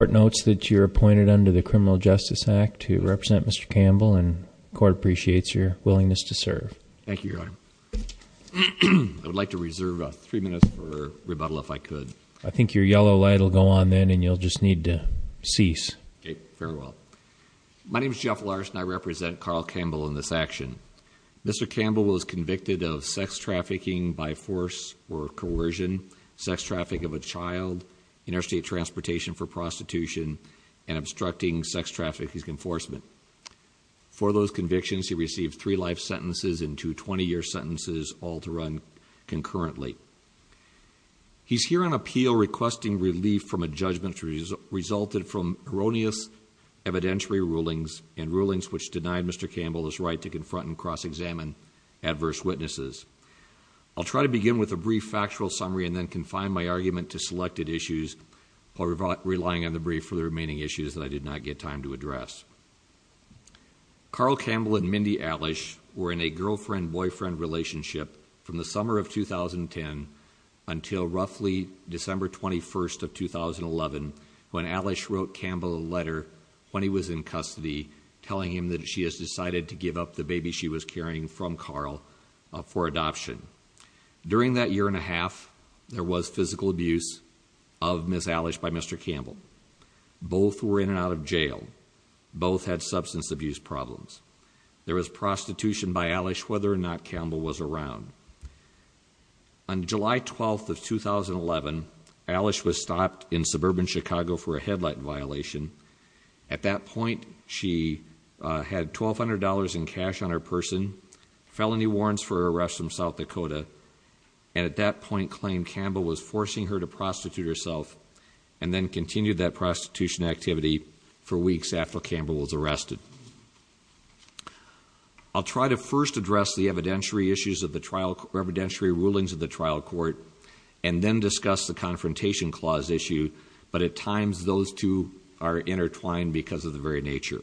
The court notes that you're appointed under the Criminal Justice Act to represent Mr. Campbell, and the court appreciates your willingness to serve. Thank you, Your Honor. I would like to reserve three minutes for rebuttal if I could. I think your yellow light will go on then, and you'll just need to cease. Okay, very well. My name is Jeff Larson, I represent Carl Campbell in this action. Mr. Campbell was convicted of sex trafficking by force or coercion, sex trafficking of a child, interstate transportation for prostitution, and obstructing sex trafficking enforcement. For those convictions, he received three life sentences and two 20-year sentences, all to run concurrently. He's here on appeal requesting relief from a judgment resulted from erroneous evidentiary rulings, and rulings which denied Mr. Campbell his right to confront and cross-examine adverse witnesses. I'll try to begin with a brief factual summary, and then confine my argument to selected issues while relying on the brief for the remaining issues that I did not get time to address. Carl Campbell and Mindy Elish were in a girlfriend-boyfriend relationship from the summer of 2010 until roughly December 21st of 2011, when Elish wrote Campbell a letter when he was in custody, telling him that she has decided to give up the baby she was carrying from Carl for adoption. During that year and a half, there was physical abuse of Ms. Elish by Mr. Campbell. Both were in and out of jail. Both had substance abuse problems. There was prostitution by Elish whether or not Campbell was around. On July 12th of 2011, Elish was stopped in suburban Chicago for a headlight violation. At that point, she had $1,200 in cash on her person, felony warrants for her arrest from South Dakota. And at that point, claimed Campbell was forcing her to prostitute herself, and then continued that prostitution activity for weeks after Campbell was arrested. I'll try to first address the evidentiary rulings of the trial court, and then discuss the confrontation clause issue, but at times those two are intertwined because of the very nature.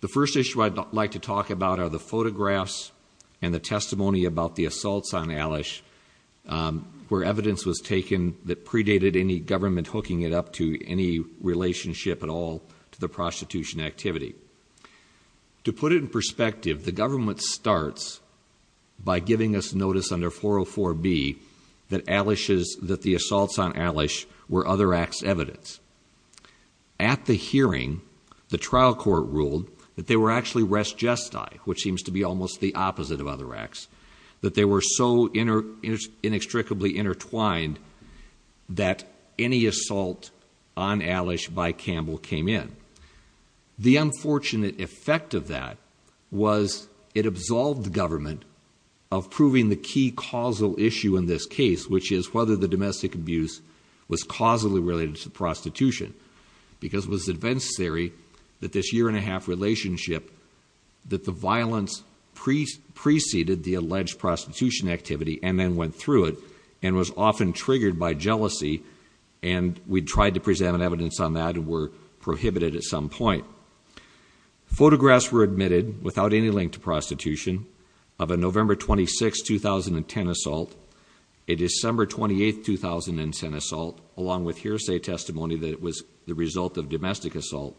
The first issue I'd like to talk about are the photographs and the testimony about the assaults on Elish, where evidence was taken that predated any government hooking it up to any relationship at all to the prostitution activity. To put it in perspective, the government starts by giving us notice under 404B, that the assaults on Elish were other acts evidence. At the hearing, the trial court ruled that they were actually res gesti, which seems to be almost the opposite of other acts. That they were so inextricably intertwined that any assault on Elish by Campbell came in. The unfortunate effect of that was it absolved the government of proving the key causal issue in this case, which is whether the domestic abuse was causally related to prostitution. Because it was adventistary that this year and a half relationship, that the violence preceded the alleged prostitution activity, and then went through it. And was often triggered by jealousy, and we tried to present evidence on that and were prohibited at some point. Photographs were admitted, without any link to prostitution, of a November 26th, 2010 assault. A December 28th, 2010 assault, along with hearsay testimony that it was the result of domestic assault.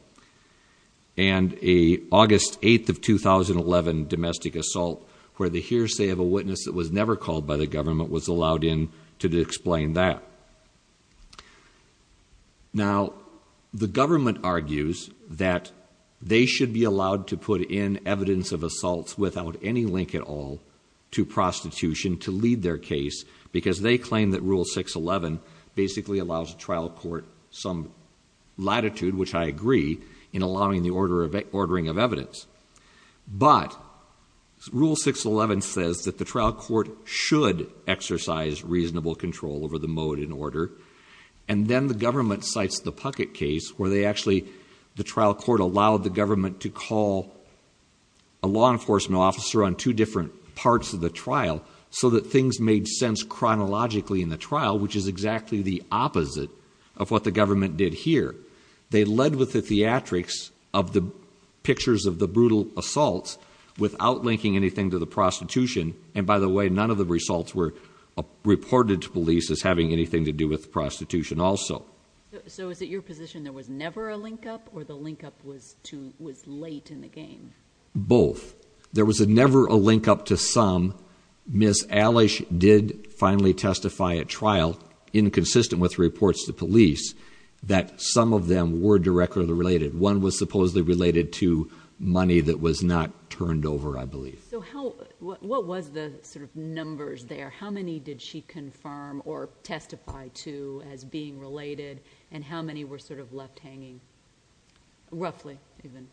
And a August 8th of 2011 domestic assault, where the hearsay of a witness that was never called by the government was allowed in to explain that. Now, the government argues that they should be allowed to put in evidence of assaults without any link at all to prostitution to lead their case. Because they claim that Rule 611 basically allows trial court some latitude, which I agree, in allowing the ordering of evidence. But Rule 611 says that the trial court should exercise reasonable control over the mode and order. And then the government cites the Puckett case, where they actually, the trial court allowed the government to call a law enforcement officer on two different parts of the trial. So that things made sense chronologically in the trial, which is exactly the opposite of what the government did here. They led with the theatrics of the pictures of the brutal assaults without linking anything to the prostitution. And by the way, none of the results were reported to police as having anything to do with prostitution also. So is it your position there was never a link up, or the link up was late in the game? Both. There was never a link up to some. Ms. Elish did finally testify at trial, inconsistent with reports to police, that some of them were directly related. One was supposedly related to money that was not turned over, I believe. So what was the sort of numbers there? How many did she confirm or testify to as being related? And how many were sort of left hanging, roughly, even?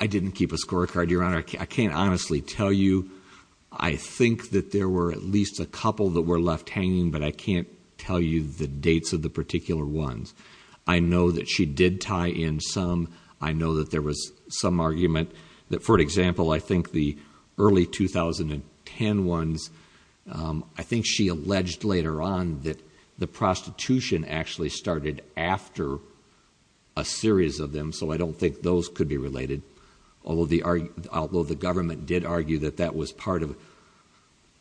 I didn't keep a scorecard, Your Honor. I can't honestly tell you. I think that there were at least a couple that were left hanging, but I can't tell you the dates of the particular ones. I know that she did tie in some. I know that there was some argument that, for example, I think the early 2010 ones, I think she alleged later on that the prostitution actually started after a series of them, so I don't think those could be related. Although the government did argue that that was part of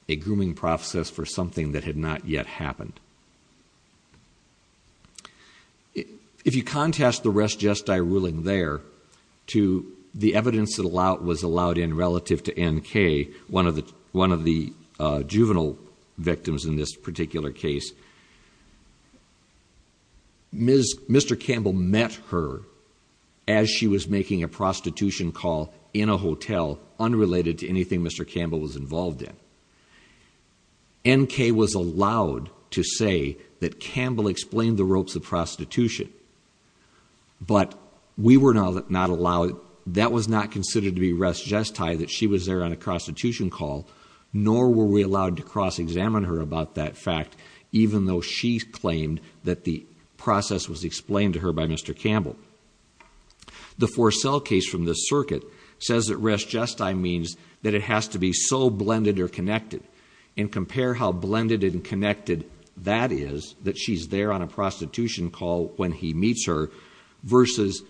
a grooming process for something that had not yet happened. If you contest the res gestae ruling there to the evidence that was allowed in relative to NK, one of the juvenile victims in this particular case, Mr. Campbell met her as she was making a prostitution call in a hotel unrelated to anything Mr. Campbell was involved in. NK was allowed to say that Campbell explained the ropes of prostitution. But we were not allowed, that was not considered to be res gestae that she was there on a prostitution call. Nor were we allowed to cross examine her about that fact, even though she claimed that the process was explained to her by Mr. Campbell. The for sale case from the circuit says that res gestae means that it has to be so blended or connected. And compare how blended and connected that is, that she's there on a prostitution call when he meets her, versus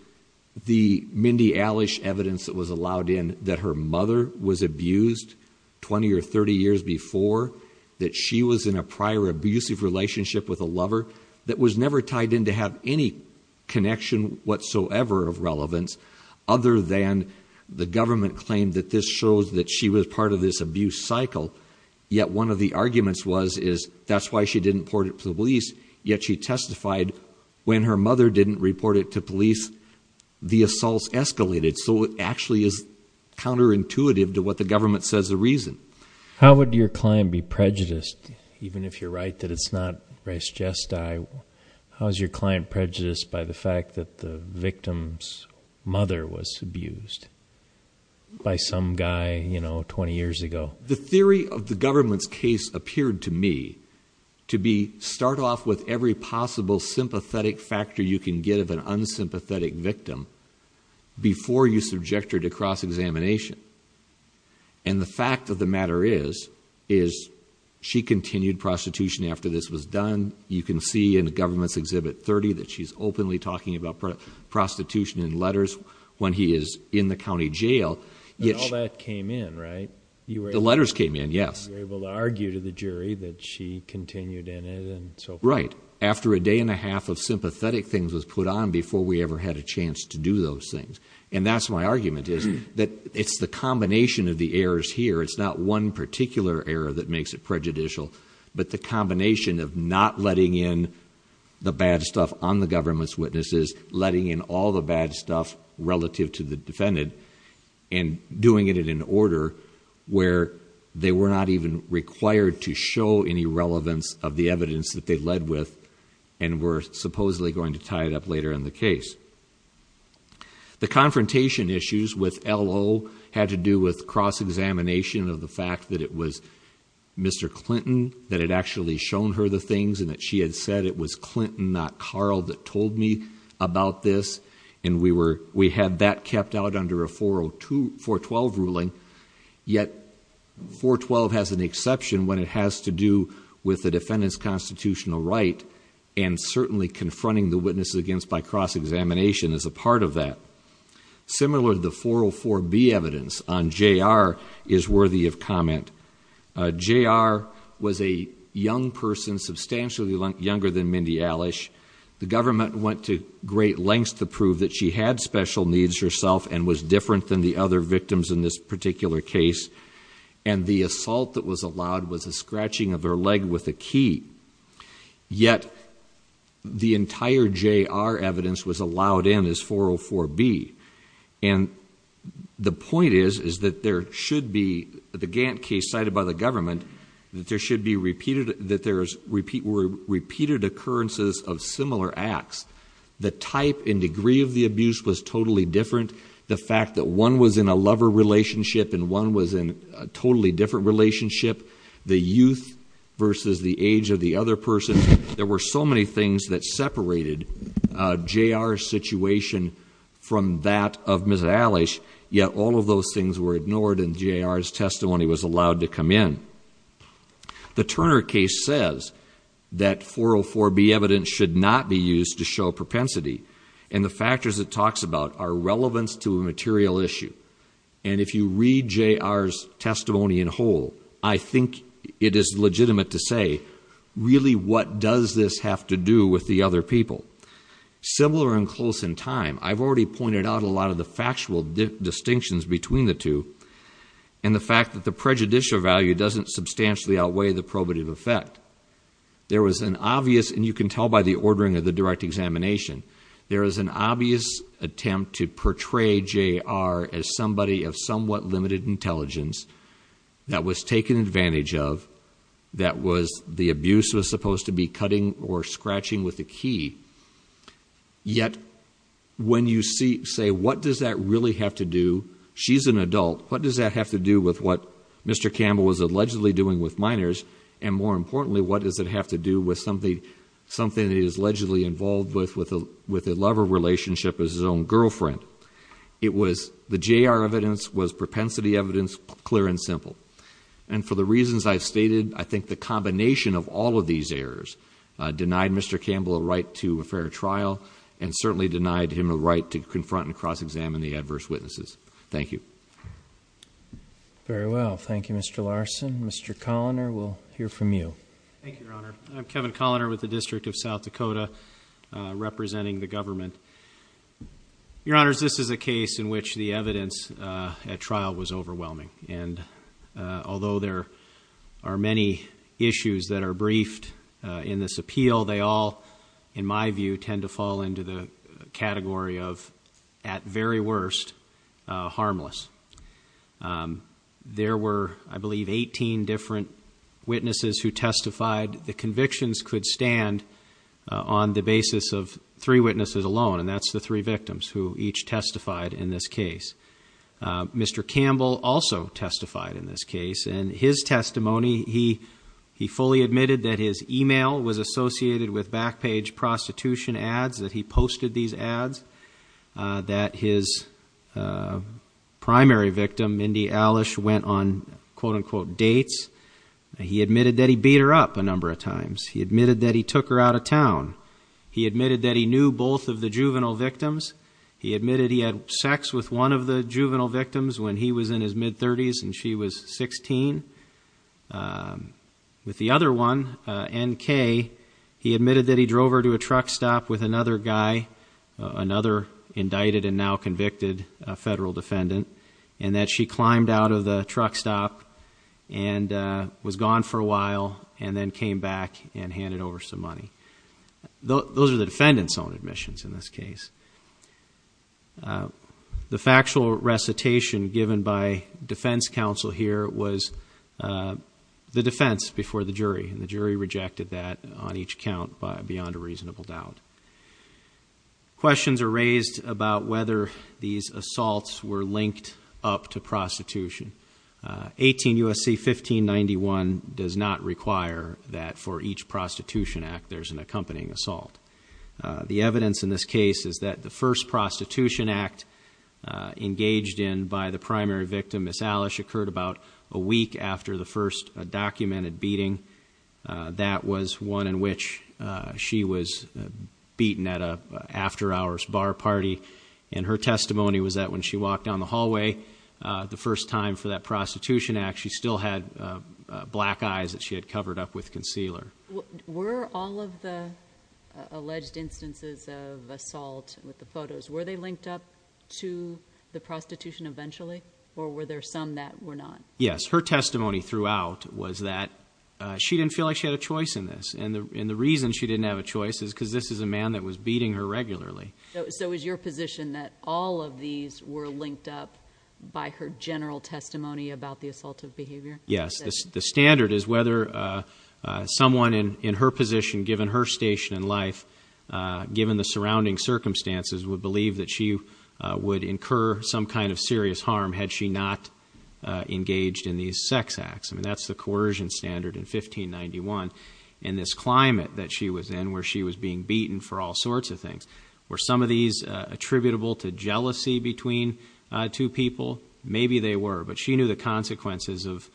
the Mindy Alish evidence that was allowed in that her mother was abused 20 or 30 years before, that she was in a prior abusive relationship with a lover. That was never tied in to have any connection whatsoever of relevance, other than the government claimed that this shows that she was part of this abuse cycle. Yet one of the arguments was, is that's why she didn't report it to the police, yet she testified when her mother didn't report it to police, the assaults escalated. So it actually is counterintuitive to what the government says the reason. How would your client be prejudiced, even if you're right that it's not res gestae? How's your client prejudiced by the fact that the victim's mother was abused by some guy 20 years ago? The theory of the government's case appeared to me to be, start off with every possible sympathetic factor you can get of an unsympathetic victim. Before you subject her to cross-examination. And the fact of the matter is, is she continued prostitution after this was done. You can see in the government's exhibit 30 that she's openly talking about prostitution and letters when he is in the county jail. Yet all that came in, right? You were able- The letters came in, yes. You were able to argue to the jury that she continued in it and so forth. Right. After a day and a half of sympathetic things was put on before we ever had a chance to do those things. And that's my argument, is that it's the combination of the errors here. It's not one particular error that makes it prejudicial. But the combination of not letting in the bad stuff on the government's witnesses, letting in all the bad stuff relative to the defendant, and doing it in an order where they were not even required to show any relevance of the evidence that they led with. And we're supposedly going to tie it up later in the case. The confrontation issues with LO had to do with cross-examination of the fact that it was Mr. Clinton, not Carl, that told me about this. And we had that kept out under a 412 ruling. Yet 412 has an exception when it has to do with the defendant's constitutional right. And certainly confronting the witnesses against by cross-examination is a part of that. Similar to the 404B evidence on JR is worthy of comment. JR was a young person, substantially younger than Mindy Elish. The government went to great lengths to prove that she had special needs herself and was different than the other victims in this particular case. And the assault that was allowed was a scratching of her leg with a key. Yet the entire JR evidence was allowed in as 404B. And the point is, is that there should be, the Gantt case cited by the government, that there should be repeated, that there were repeated occurrences of similar acts. The type and degree of the abuse was totally different. The fact that one was in a lover relationship and one was in a totally different relationship. The youth versus the age of the other person. There were so many things that separated JR's situation from that of Ms. Elish. Yet all of those things were ignored and JR's testimony was allowed to come in. The Turner case says that 404B evidence should not be used to show propensity. And the factors it talks about are relevance to a material issue. And if you read JR's testimony in whole, I think it is legitimate to say, really what does this have to do with the other people? Similar and close in time, I've already pointed out a lot of the factual distinctions between the two. And the fact that the prejudicial value doesn't substantially outweigh the probative effect. There was an obvious, and you can tell by the ordering of the direct examination, there is an obvious attempt to portray JR as somebody of somewhat limited intelligence. That was taken advantage of, that the abuse was supposed to be cutting or scratching with a key. Yet when you say, what does that really have to do? She's an adult, what does that have to do with what Mr. Campbell was allegedly doing with minors? And more importantly, what does it have to do with something that he's allegedly involved with a lover relationship as his own girlfriend? It was the JR evidence was propensity evidence, clear and simple. And for the reasons I've stated, I think the combination of all of these errors denied Mr. Campbell a right to a fair trial, and certainly denied him a right to confront and cross-examine the adverse witnesses. Thank you. Very well, thank you Mr. Larson. Mr. Colliner, we'll hear from you. Thank you, Your Honor. I'm Kevin Colliner with the District of South Dakota, representing the government. Your Honors, this is a case in which the evidence at trial was overwhelming. And although there are many issues that are briefed in this appeal, they all, in my view, tend to fall into the category of, at very worst, harmless. There were, I believe, 18 different witnesses who testified. The convictions could stand on the basis of three witnesses alone, and that's the three victims who each testified in this case. Mr. Campbell also testified in this case. In his testimony, he fully admitted that his email was associated with back page prostitution ads, that he posted these ads. That his primary victim, Mindy Elish, went on quote unquote dates. He admitted that he beat her up a number of times. He admitted that he took her out of town. He admitted that he knew both of the juvenile victims. He admitted he had sex with one of the juvenile victims when he was in his mid-30s and she was 16. With the other one, NK, he admitted that he drove her to a truck stop with another guy, another indicted and now convicted federal defendant, and that she climbed out of the truck stop. And was gone for a while, and then came back and handed over some money. Those are the defendant's own admissions in this case. The factual recitation given by defense counsel here was the defense before the jury. And the jury rejected that on each count beyond a reasonable doubt. Questions are raised about whether these assaults were linked up to prostitution. 18 U.S.C. 1591 does not require that for each prostitution act there's an accompanying assault. The evidence in this case is that the first prostitution act engaged in by the primary victim, Miss Elish, occurred about a week after the first documented beating. That was one in which she was beaten at an after hours bar party. And her testimony was that when she walked down the hallway, the first time for that prostitution act, she still had black eyes that she had covered up with concealer. Were all of the alleged instances of assault with the photos, were they linked up to the prostitution eventually, or were there some that were not? Yes, her testimony throughout was that she didn't feel like she had a choice in this. And the reason she didn't have a choice is because this is a man that was beating her regularly. So is your position that all of these were linked up by her general testimony about the assaultive behavior? Yes, the standard is whether someone in her position, given her station in life, given the surrounding circumstances, would believe that she would incur some kind of serious harm had she not engaged in these sex acts. I mean, that's the coercion standard in 1591. In this climate that she was in, where she was being beaten for all sorts of things. Were some of these attributable to jealousy between two people? Maybe they were, but she knew the consequences of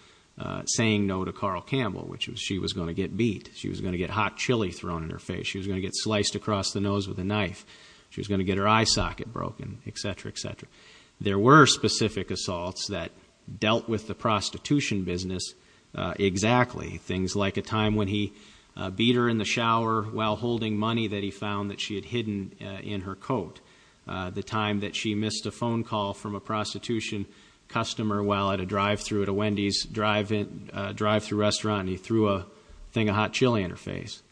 saying no to Carl Campbell, which was she was going to get beat. She was going to get hot chili thrown in her face. She was going to get sliced across the nose with a knife. She was going to get her eye socket broken, etc., etc. There were specific assaults that dealt with the prostitution business exactly. Things like a time when he beat her in the shower while holding money that he found that she had hidden in her coat. The time that she missed a phone call from a prostitution customer while at a drive-thru at a Wendy's drive-thru restaurant. And he threw a thing of hot chili in her face.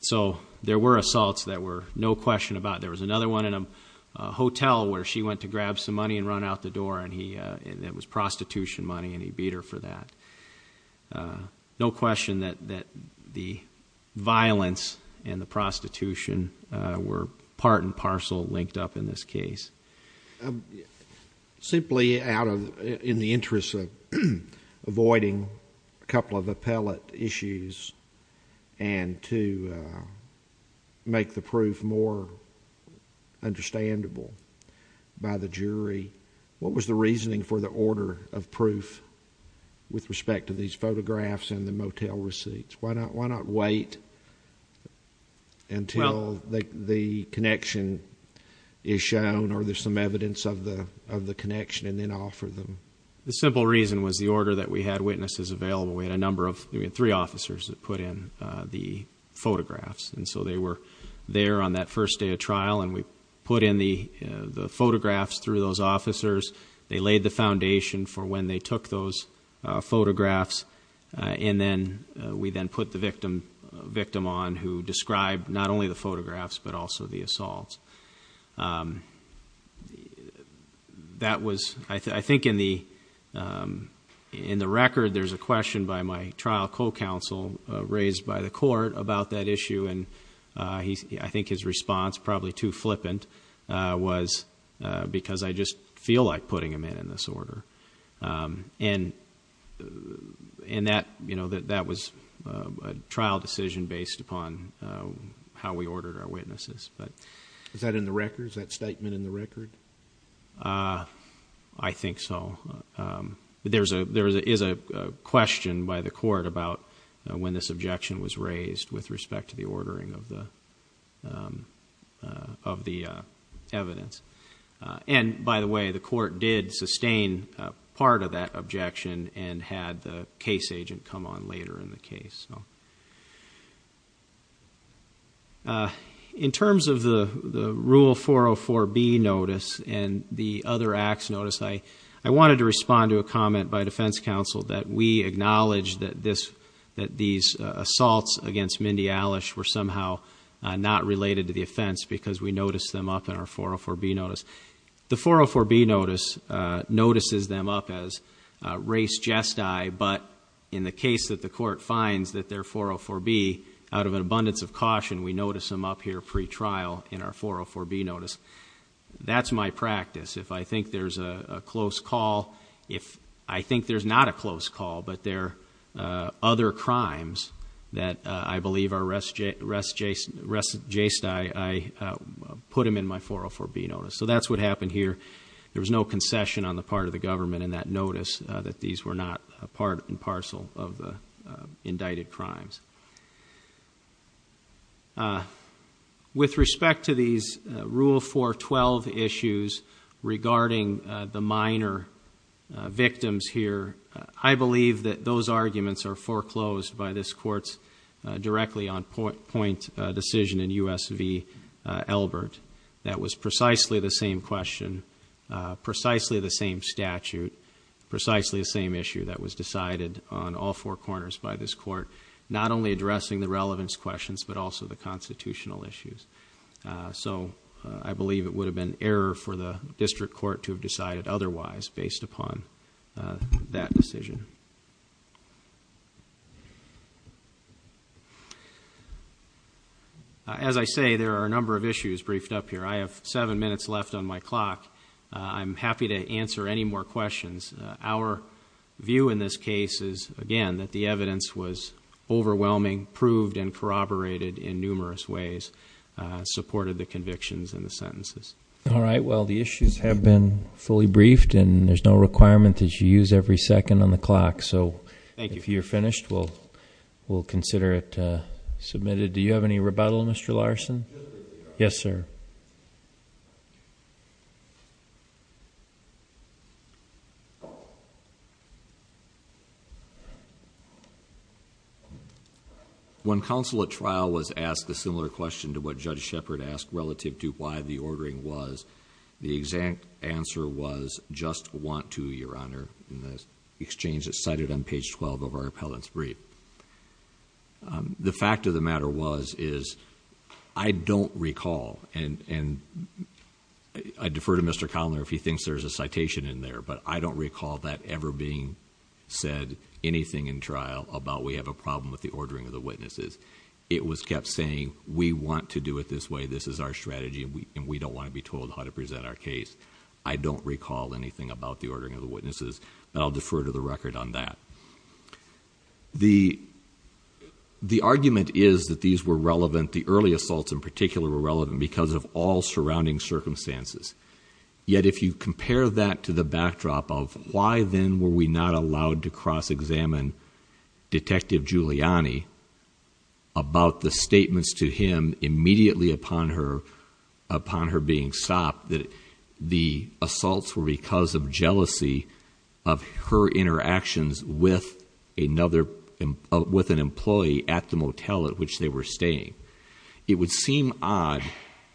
So there were assaults that were no question about it. There was another one in a hotel where she went to grab some money and run out the door. And it was prostitution money and he beat her for that. No question that the violence and the prostitution were part and parcel linked up in this case. Simply out of, in the interest of avoiding a couple of appellate issues and What was the reasoning for the order of proof with respect to these photographs and the motel receipts? Why not wait until the connection is shown or there's some evidence of the connection and then offer them? The simple reason was the order that we had witnesses available. We had a number of, we had three officers that put in the photographs. And so they were there on that first day of trial and we put in the photographs through those officers. They laid the foundation for when they took those photographs. And then we then put the victim on who described not only the photographs, but also the assaults. That was, I think in the record there's a question by my trial co-counsel raised by the court about that issue. And I think his response, probably too flippant, was because I just feel like putting him in, in this order. And that was a trial decision based upon how we ordered our witnesses. Is that in the record? Is that statement in the record? I think so. There is a question by the court about when this objection was raised with respect to the ordering of the evidence. And by the way, the court did sustain part of that objection and had the case agent come on later in the case. In terms of the rule 404B notice and the other acts notice, I wanted to respond to a comment by defense counsel that we acknowledge that these assaults against Mindy Elish were somehow not related to the offense because we noticed them up in our 404B notice. The 404B notice notices them up as race jest I, but in the case that the court finds that they're 404B, out of an abundance of caution, we notice them up here pre-trial in our 404B notice. That's my practice. If I think there's a close call, if I think there's not a close call, but there are other crimes that I believe are rest jay, rest jay, rest jayst I, I put them in my 404B notice. So that's what happened here. There was no concession on the part of the government in that notice that these were not a part and parcel of the indicted crimes. With respect to these rule 412 issues regarding the minor victims here, I believe that those arguments are foreclosed by this court's directly on point decision in USV Elbert. That was precisely the same question, precisely the same statute, precisely the same issue that was decided on all four corners by this court. Not only addressing the relevance questions, but also the constitutional issues. So I believe it would have been error for the district court to have decided otherwise based upon that decision. As I say, there are a number of issues briefed up here. I have seven minutes left on my clock. I'm happy to answer any more questions. Our view in this case is, again, that the evidence was overwhelming, proved and corroborated in numerous ways, supported the convictions and the sentences. All right, well, the issues have been fully briefed and there's no requirement that you use every second on the clock. So if you're finished, we'll consider it submitted. Do you have any rebuttal, Mr. Larson? Yes, sir. When counsel at trial was asked a similar question to what Judge Shepard asked relative to why the ordering was, the exact answer was, just want to, Your Honor, in the exchange that's cited on page 12 of our appellant's brief. The fact of the matter was, is I don't recall, and I defer to Mr. Conner if he thinks there's a citation in there, but I don't recall that there's a citation in there. I don't recall that ever being said, anything in trial, about we have a problem with the ordering of the witnesses. It was kept saying, we want to do it this way, this is our strategy, and we don't want to be told how to present our case. I don't recall anything about the ordering of the witnesses, but I'll defer to the record on that. The argument is that these were relevant, the early assaults in particular were relevant, because of all surrounding circumstances. Yet, if you compare that to the backdrop of why then were we not allowed to cross-examine Detective Giuliani about the statements to him immediately upon her being stopped, that the assaults were because of jealousy of her interactions with an employee at the motel at which they were staying. It would seem odd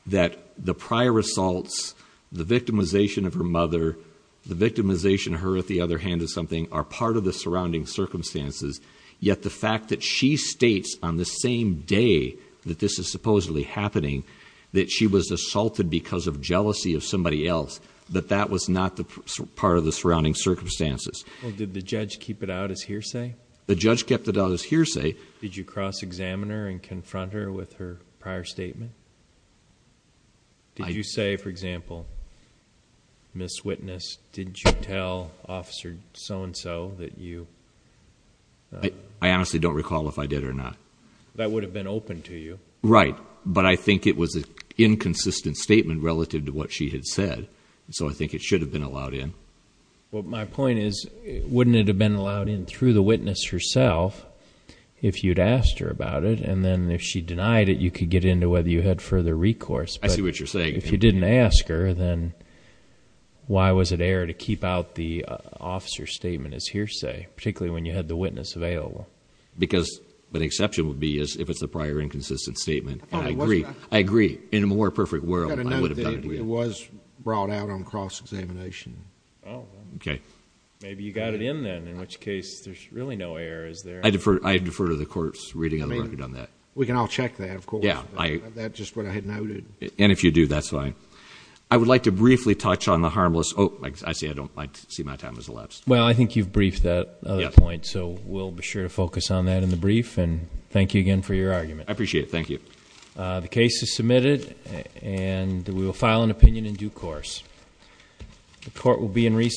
that the prior assaults, the victimization of her mother, the victimization of her at the other hand of something, are part of the surrounding circumstances. Yet the fact that she states on the same day that this is supposedly happening, that she was assaulted because of jealousy of somebody else, that that was not part of the surrounding circumstances. Did the judge keep it out as hearsay? The judge kept it out as hearsay. Did you cross-examine her and confront her with her prior statement? Did you say, for example, Miss Witness, did you tell Officer So-and-so that you- I honestly don't recall if I did or not. That would have been open to you. Right, but I think it was an inconsistent statement relative to what she had said. So I think it should have been allowed in. Well, my point is, wouldn't it have been allowed in through the witness herself if you'd asked her about it? And then if she denied it, you could get into whether you had further recourse. I see what you're saying. If you didn't ask her, then why was it air to keep out the officer's statement as hearsay, particularly when you had the witness available? Because the exception would be if it's a prior inconsistent statement. I agree. I agree. In a more perfect world, I would have done it. It was brought out on cross-examination. Okay. Maybe you got it in then, in which case there's really no errors there. I defer to the court's reading of the record on that. We can all check that, of course. Yeah. That's just what I had noted. And if you do, that's fine. I would like to briefly touch on the harmless, I see my time has elapsed. Well, I think you've briefed that point, so we'll be sure to focus on that in the brief. And thank you again for your argument. I appreciate it, thank you. The case is submitted, and we will file an opinion in due course. The court will be in